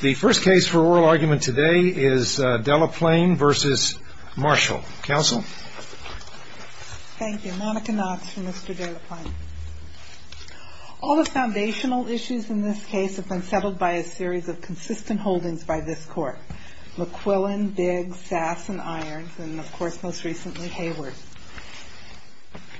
The first case for oral argument today is Delaplane v. Marshall. Counsel. Thank you. Monica Knox for Mr. Delaplane. All the foundational issues in this case have been settled by a series of consistent holdings by this Court. McQuillan, Biggs, Sass, and Irons, and of course most recently Hayward.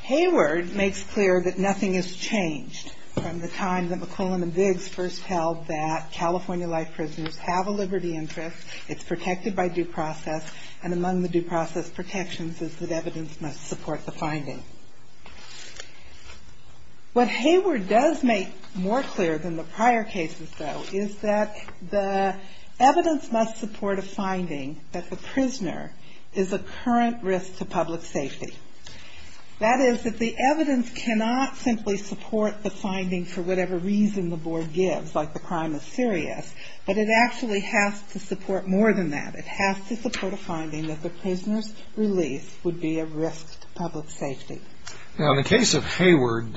Hayward makes clear that nothing has changed from the time that McQuillan and Biggs first held that California life prisoners have a liberty interest, it's protected by due process, and among the due process protections is that evidence must support the finding. What Hayward does make more clear than the prior cases, though, is that the evidence must support a finding that the prisoner is a current risk to public safety. That is, that the evidence cannot simply support the finding for whatever reason the Board gives, like the crime is serious, but it actually has to support more than that. It has to support a finding that the prisoner's release would be a risk to public safety. Now, in the case of Hayward,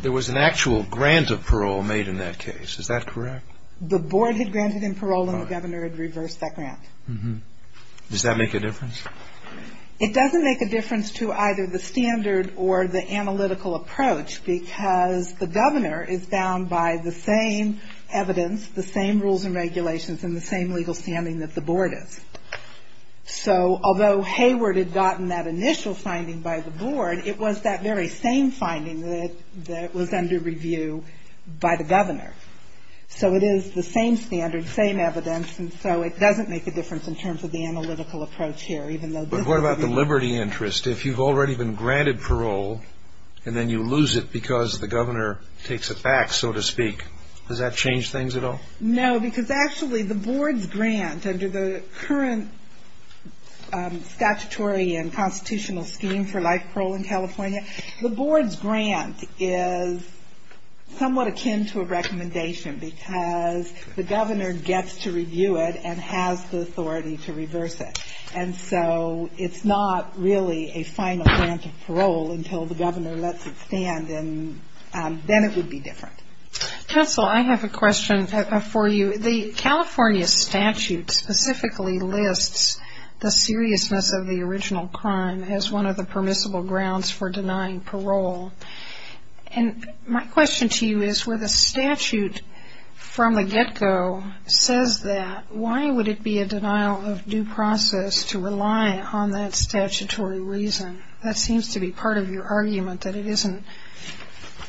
there was an actual grant of parole made in that case. Is that correct? The Board had granted him parole and the Governor had reversed that grant. Does that make a difference? It doesn't make a difference to either the standard or the analytical approach because the Governor is bound by the same evidence, the same rules and regulations, and the same legal standing that the Board is. So although Hayward had gotten that initial finding by the Board, it was that very same finding that was under review by the Governor. So it is the same standard, same evidence, and so it doesn't make a difference in terms of the analytical approach here. But what about the liberty interest? If you've already been granted parole and then you lose it because the Governor takes it back, so to speak, does that change things at all? No, because actually the Board's grant under the current statutory and constitutional scheme for life parole in California, the Board's grant is somewhat akin to a recommendation because the Governor gets to review it and has the authority to reverse it. And so it's not really a final grant of parole until the Governor lets it stand, and then it would be different. Counsel, I have a question for you. The California statute specifically lists the seriousness of the original crime as one of the permissible grounds for denying parole. And my question to you is where the statute from the get-go says that, why would it be a denial of due process to rely on that statutory reason? That seems to be part of your argument, that it isn't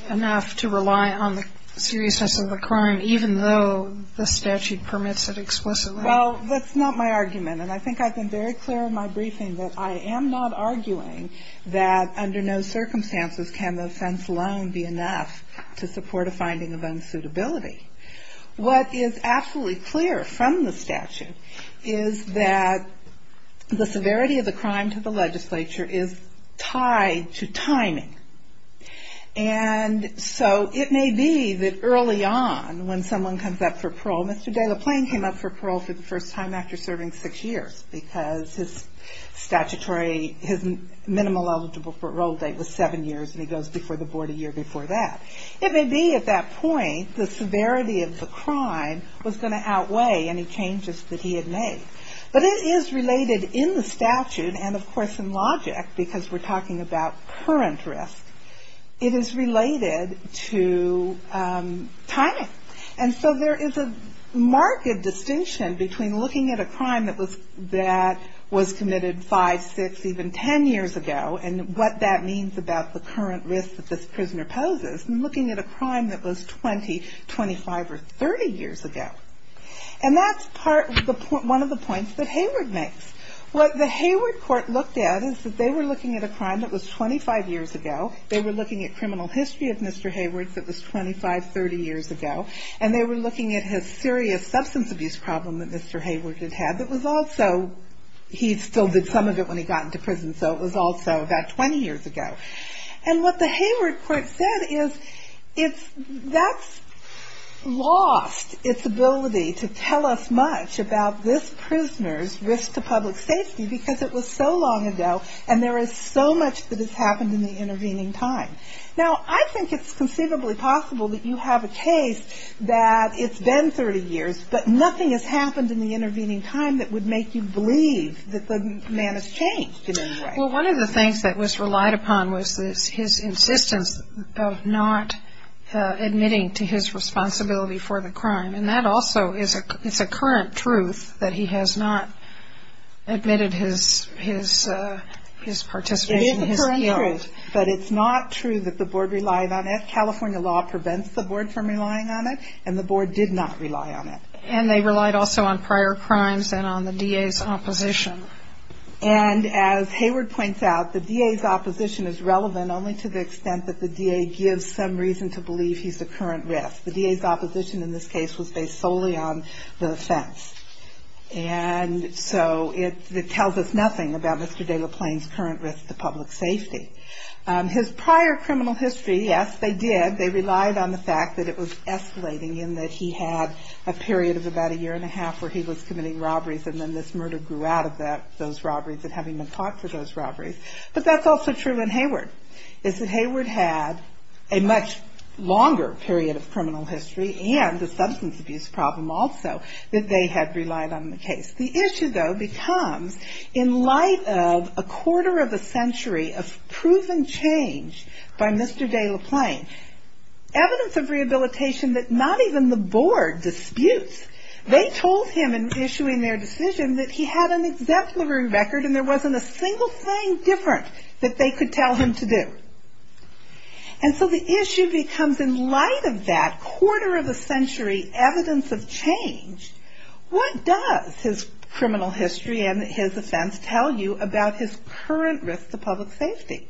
enough to rely on the seriousness of the crime, even though the statute permits it explicitly. Well, that's not my argument, and I think I've been very clear in my briefing that I am not arguing that under no circumstances can the offense alone be enough to support a finding of unsuitability. What is absolutely clear from the statute is that the severity of the crime to the legislature is tied to timing. And so it may be that early on when someone comes up for parole, Mr. De La Plain came up for parole for the first time after serving six years because his statutory, his minimum eligible parole date was seven years, and he goes before the board a year before that. It may be at that point the severity of the crime was going to outweigh any changes that he had made. But it is related in the statute, and of course in logic, because we're talking about current risk, it is related to timing. And so there is a marked distinction between looking at a crime that was committed five, six, even ten years ago and what that means about the current risk that this prisoner poses and looking at a crime that was 20, 25, or 30 years ago. And that's one of the points that Hayward makes. What the Hayward court looked at is that they were looking at a crime that was 25 years ago. They were looking at criminal history of Mr. Hayward that was 25, 30 years ago. And they were looking at his serious substance abuse problem that Mr. Hayward had had that was also, he still did some of it when he got into prison, so it was also about 20 years ago. And what the Hayward court said is that's lost its ability to tell us much about this prisoner's risk to public safety because it was so long ago and there is so much that has happened in the intervening time. Now, I think it's conceivably possible that you have a case that it's been 30 years, but nothing has happened in the intervening time that would make you believe that the man has changed in any way. Well, one of the things that was relied upon was his insistence of not admitting to his responsibility for the crime. And that also is a current truth that he has not admitted his participation in his guilt. It is a current truth, but it's not true that the board relied on it. California law prevents the board from relying on it, and the board did not rely on it. And they relied also on prior crimes and on the DA's opposition. And as Hayward points out, the DA's opposition is relevant only to the extent that the DA gives some reason to believe he's the current risk. The DA's opposition in this case was based solely on the offense. And so it tells us nothing about Mr. De La Plain's current risk to public safety. His prior criminal history, yes, they did. They relied on the fact that it was escalating in that he had a period of about a year and a half where he was committing robberies, and then this murder grew out of those robberies and having been caught for those robberies. But that's also true in Hayward, is that Hayward had a much longer period of criminal history and a substance abuse problem also that they had relied on in the case. The issue, though, becomes in light of a quarter of a century of proven change by Mr. De La Plain, evidence of rehabilitation that not even the board disputes. They told him in issuing their decision that he had an exempt livery record and there wasn't a single thing different that they could tell him to do. And so the issue becomes in light of that quarter of a century evidence of change, what does his criminal history and his offense tell you about his current risk to public safety?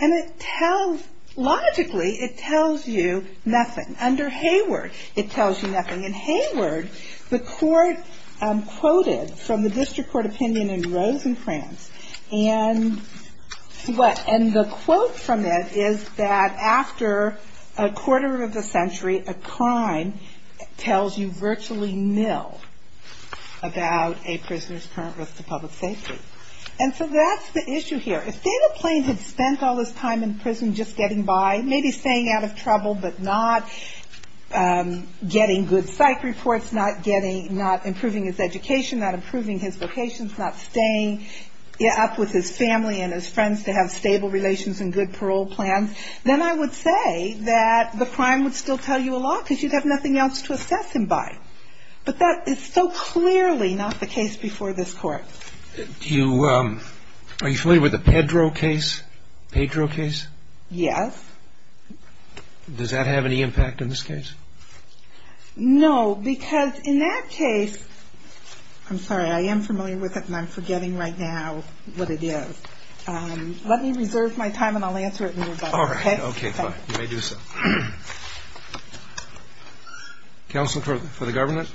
And it tells, logically, it tells you nothing. Under Hayward, it tells you nothing. In Hayward, the court quoted from the district court opinion in Rosencrantz, and the quote from it is that after a quarter of a century, a crime tells you virtually nil about a prisoner's current risk to public safety. And so that's the issue here. If De La Plain had spent all his time in prison just getting by, maybe staying out of trouble, but not getting good psych reports, not getting ñ not improving his education, not improving his vocations, not staying up with his family and his friends to have stable relations and good parole plans, then I would say that the crime would still tell you a lot because you'd have nothing else to assess him by. But that is so clearly not the case before this Court. Do you ñ are you familiar with the Pedro case? Pedro case? Yes. Does that have any impact in this case? No, because in that case ñ I'm sorry. I am familiar with it, and I'm forgetting right now what it is. Let me reserve my time, and I'll answer it a little better. All right. Okay, fine. You may do so. Counsel for the government?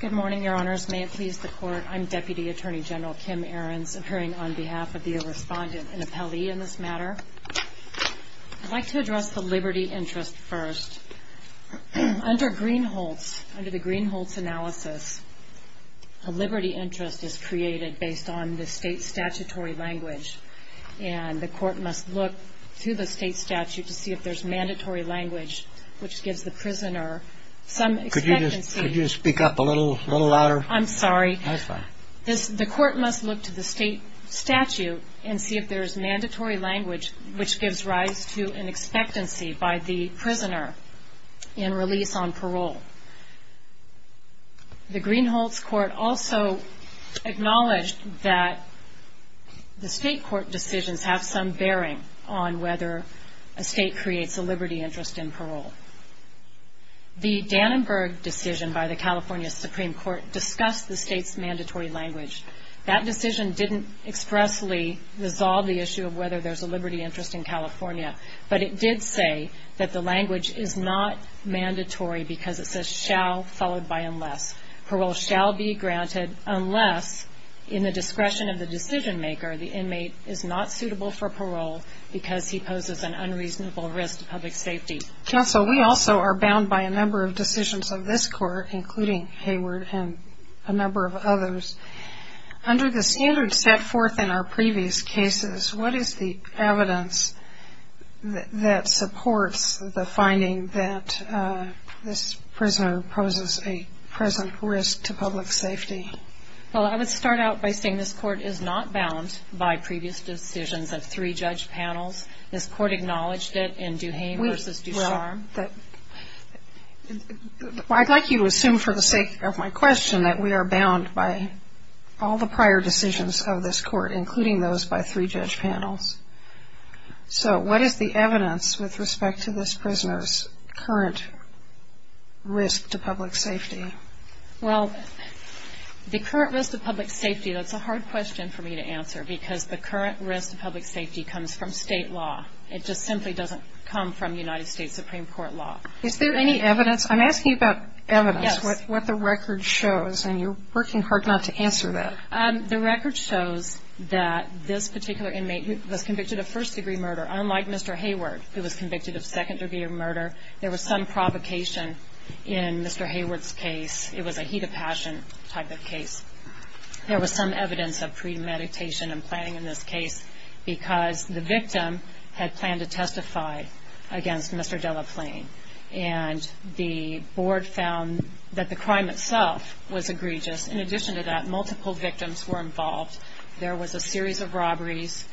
Good morning, Your Honors. May it please the Court, I'm Deputy Attorney General Kim Ahrens, appearing on behalf of the respondent and appellee in this matter. I'd like to address the liberty interest first. Under Greenholtz, under the Greenholtz analysis, a liberty interest is created based on the state's statutory language, and the Court must look to the state statute to see if there's mandatory language which gives the prisoner some expectancy. Could you just speak up a little louder? I'm sorry. That's fine. The Court must look to the state statute and see if there is mandatory language The Greenholtz Court also acknowledged that the state court decisions have some bearing on whether a state creates a liberty interest in parole. The Dannenberg decision by the California Supreme Court discussed the state's mandatory language. That decision didn't expressly resolve the issue of whether there's a liberty interest in California, but it did say that the language is not mandatory because it says shall followed by unless. Parole shall be granted unless, in the discretion of the decision maker, the inmate is not suitable for parole because he poses an unreasonable risk to public safety. Counsel, we also are bound by a number of decisions of this Court, including Hayward and a number of others. Under the standard set forth in our previous cases, what is the evidence that supports the finding that this prisoner poses a present risk to public safety? Well, I would start out by saying this Court is not bound by previous decisions of three judge panels. This Court acknowledged it in Duhame v. Ducharme. I'd like you to assume for the sake of my question that we are bound by all the prior decisions of this Court, including those by three judge panels. So what is the evidence with respect to this prisoner's current risk to public safety? Well, the current risk to public safety, that's a hard question for me to answer because the current risk to public safety comes from state law. It just simply doesn't come from United States Supreme Court law. Is there any evidence? I'm asking about evidence. Yes. What the record shows, and you're working hard not to answer that. The record shows that this particular inmate was convicted of first-degree murder. Unlike Mr. Hayward, who was convicted of second-degree murder, there was some provocation in Mr. Hayward's case. It was a heat of passion type of case. There was some evidence of premeditation and planning in this case because the victim had planned to testify against Mr. Delaplane, and the board found that the crime itself was egregious. In addition to that, multiple victims were involved. There was a series of robberies.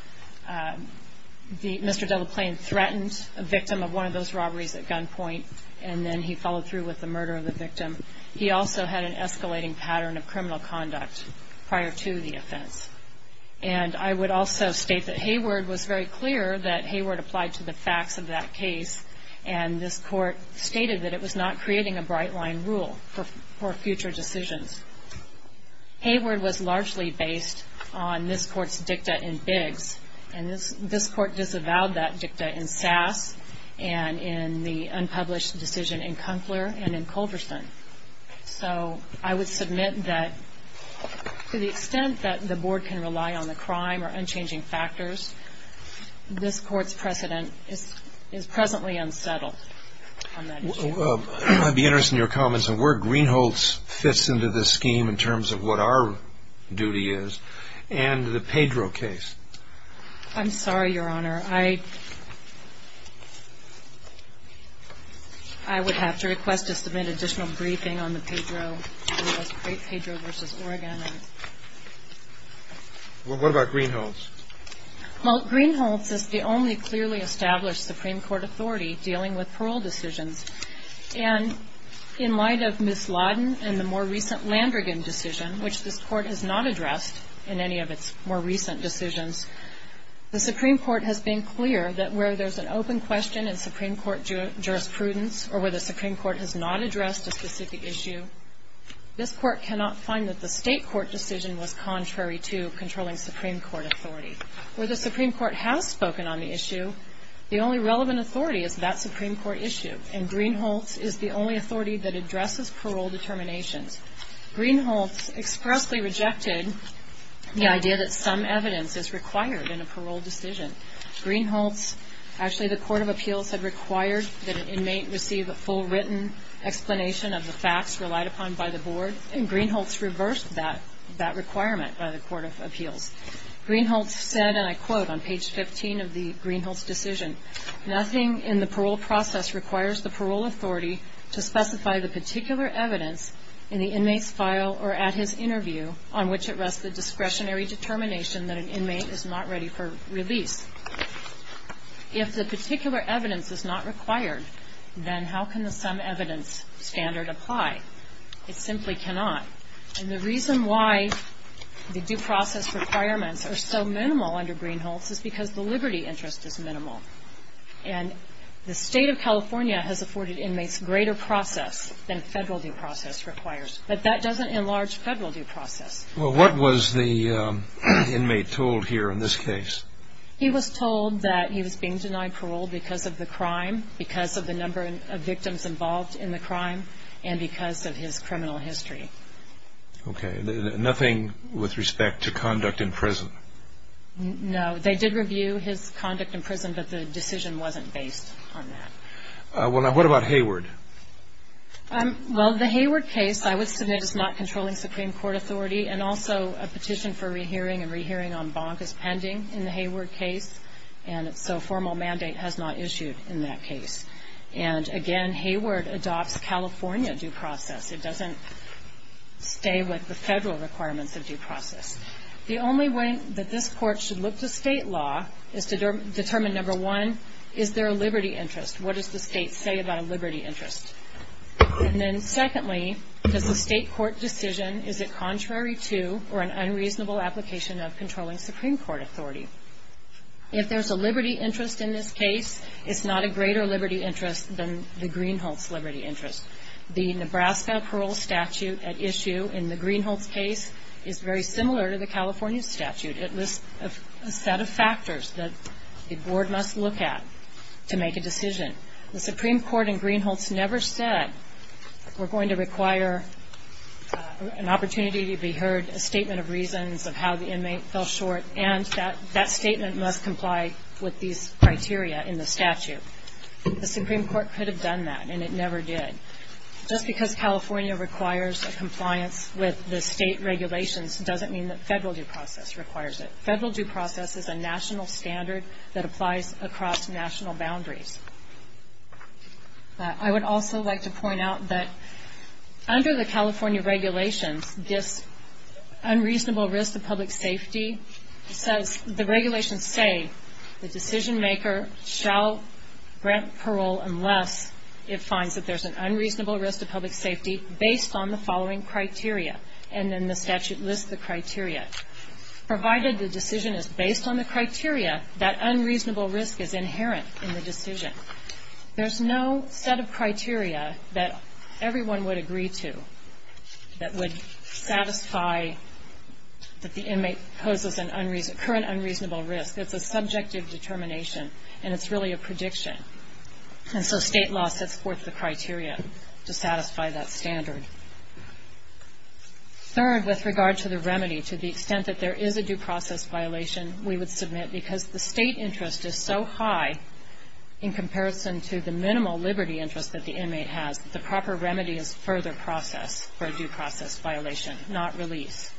Mr. Delaplane threatened a victim of one of those robberies at gunpoint, and then he followed through with the murder of the victim. He also had an escalating pattern of criminal conduct prior to the offense. And I would also state that Hayward was very clear that Hayward applied to the facts of that case, and this court stated that it was not creating a bright-line rule for future decisions. Hayward was largely based on this court's dicta in Biggs, and this court disavowed that dicta in Sass and in the unpublished decision in Kunkler and in Culverson. So I would submit that to the extent that the board can rely on the crime or unchanging factors, this court's precedent is presently unsettled on that issue. I'd be interested in your comments on where Greenholz fits into this scheme in terms of what our duty is, and the Pedro case. I'm sorry, Your Honor. I would have to request to submit additional briefing on the Pedro versus Oregon. What about Greenholz? Well, Greenholz is the only clearly established Supreme Court authority dealing with parole decisions. And in light of Ms. Laden and the more recent Landrigan decision, which this court has not addressed in any of its more recent decisions, the Supreme Court has been clear that where there's an open question in Supreme Court jurisprudence or where the Supreme Court has not addressed a specific issue, this court cannot find that the State court decision was contrary to controlling Supreme Court authority. Where the Supreme Court has spoken on the issue, the only relevant authority is that Supreme Court issue, and Greenholz is the only authority that addresses parole determinations. Greenholz expressly rejected the idea that some evidence is required in a parole decision. Greenholz, actually the Court of Appeals had required that an inmate receive a full written explanation of the facts relied upon by the board, and Greenholz reversed that requirement by the Court of Appeals. Greenholz said, and I quote on page 15 of the Greenholz decision, nothing in the parole process requires the parole authority to specify the particular evidence in the inmate's file or at his interview on which it rests the discretionary determination that an inmate is not ready for release. If the particular evidence is not required, then how can the some evidence standard apply? It simply cannot. And the reason why the due process requirements are so minimal under Greenholz is because the liberty interest is minimal. And the state of California has afforded inmates greater process than federal due process requires, but that doesn't enlarge federal due process. Well, what was the inmate told here in this case? He was told that he was being denied parole because of the crime, because of the number of victims involved in the crime, and because of his criminal history. Okay. Nothing with respect to conduct in prison? No. They did review his conduct in prison, but the decision wasn't based on that. Well, now, what about Hayward? Well, the Hayward case I would submit is not controlling Supreme Court authority, and also a petition for rehearing and rehearing en banc is pending in the Hayward case, and so a formal mandate has not issued in that case. And, again, Hayward adopts California due process. It doesn't stay with the federal requirements of due process. The only way that this court should look to state law is to determine, number one, is there a liberty interest? What does the state say about a liberty interest? And then, secondly, does the state court decision, is it contrary to or an unreasonable application of controlling Supreme Court authority? If there's a liberty interest in this case, it's not a greater liberty interest than the Greenholts liberty interest. The Nebraska parole statute at issue in the Greenholts case is very similar to the California statute. It lists a set of factors that the board must look at to make a decision. The Supreme Court in Greenholts never said we're going to require an opportunity to be heard, a statement of reasons of how the inmate fell short, and that statement must comply with these criteria in the statute. The Supreme Court could have done that, and it never did. Just because California requires a compliance with the state regulations doesn't mean that federal due process requires it. Federal due process is a national standard that applies across national boundaries. I would also like to point out that under the California regulations, this unreasonable risk to public safety says, the regulations say the decision maker shall grant parole unless it finds that there's an unreasonable risk to public safety based on the following criteria, and then the statute lists the criteria. Provided the decision is based on the criteria, that unreasonable risk is inherent in the decision. There's no set of criteria that everyone would agree to that would satisfy that the inmate poses a current unreasonable risk. It's a subjective determination, and it's really a prediction. And so state law sets forth the criteria to satisfy that standard. Third, with regard to the remedy, to the extent that there is a due process violation, we would submit because the state interest is so high in comparison to the minimal liberty interest that the inmate has the proper remedy is further process for a due process violation, not release.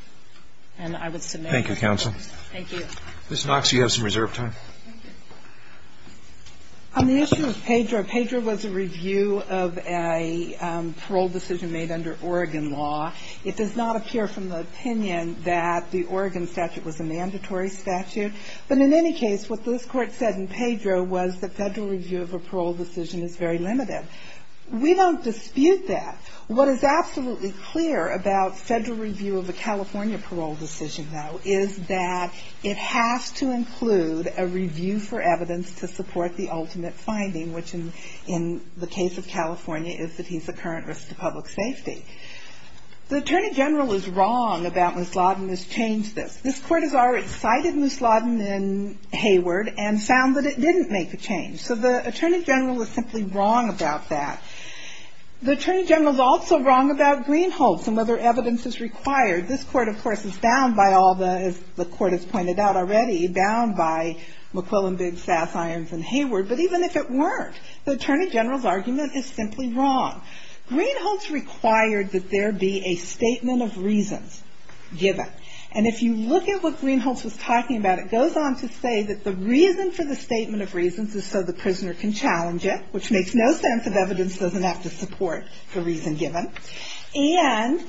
And I would submit. Thank you, counsel. Thank you. Ms. Knox, you have some reserve time. On the issue of Pedro, Pedro was a review of a parole decision made under Oregon law. It does not appear from the opinion that the Oregon statute was a mandatory statute. But in any case, what this Court said in Pedro was the federal review of a parole decision is very limited. We don't dispute that. What is absolutely clear about federal review of a California parole decision, though, is that it has to include a review for evidence to support the ultimate finding, which in the case of California is that he's a current risk to public safety. The Attorney General is wrong about Ms. Lawden's change to this. This Court has already cited Ms. Lawden in Hayward and found that it didn't make a change. So the Attorney General is simply wrong about that. The Attorney General is also wrong about Greenholtz and whether evidence is required. This Court, of course, is bound by all the, as the Court has pointed out already, bound by McQuillan, Biggs, Sass, Irons and Hayward. But even if it weren't, the Attorney General's argument is simply wrong. Greenholtz required that there be a statement of reasons given. And if you look at what Greenholtz was talking about, it goes on to say that the reason for the statement of reasons is so the prisoner can challenge it, which makes no sense if evidence doesn't have to support the reason given. And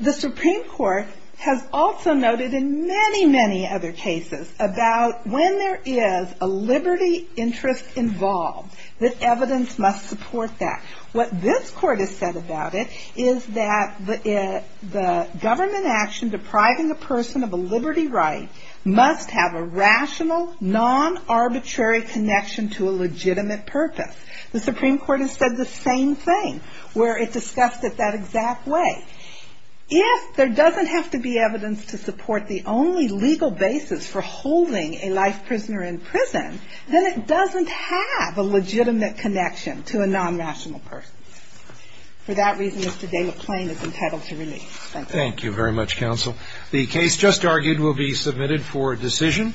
the Supreme Court has also noted in many, many other cases about when there is a liberty interest involved, that evidence must support that. What this Court has said about it is that the government action depriving a person of a liberty right must have a rational, non-arbitrary connection to a legitimate purpose. The Supreme Court has said the same thing, where it discussed it that exact way. If there doesn't have to be evidence to support the only legal basis for holding a life prisoner in prison, then it doesn't have a legitimate connection to a non-rational person. For that reason, Mr. Delaplane is entitled to release. Thank you. Thank you very much, Counsel. The case just argued will be submitted for decision.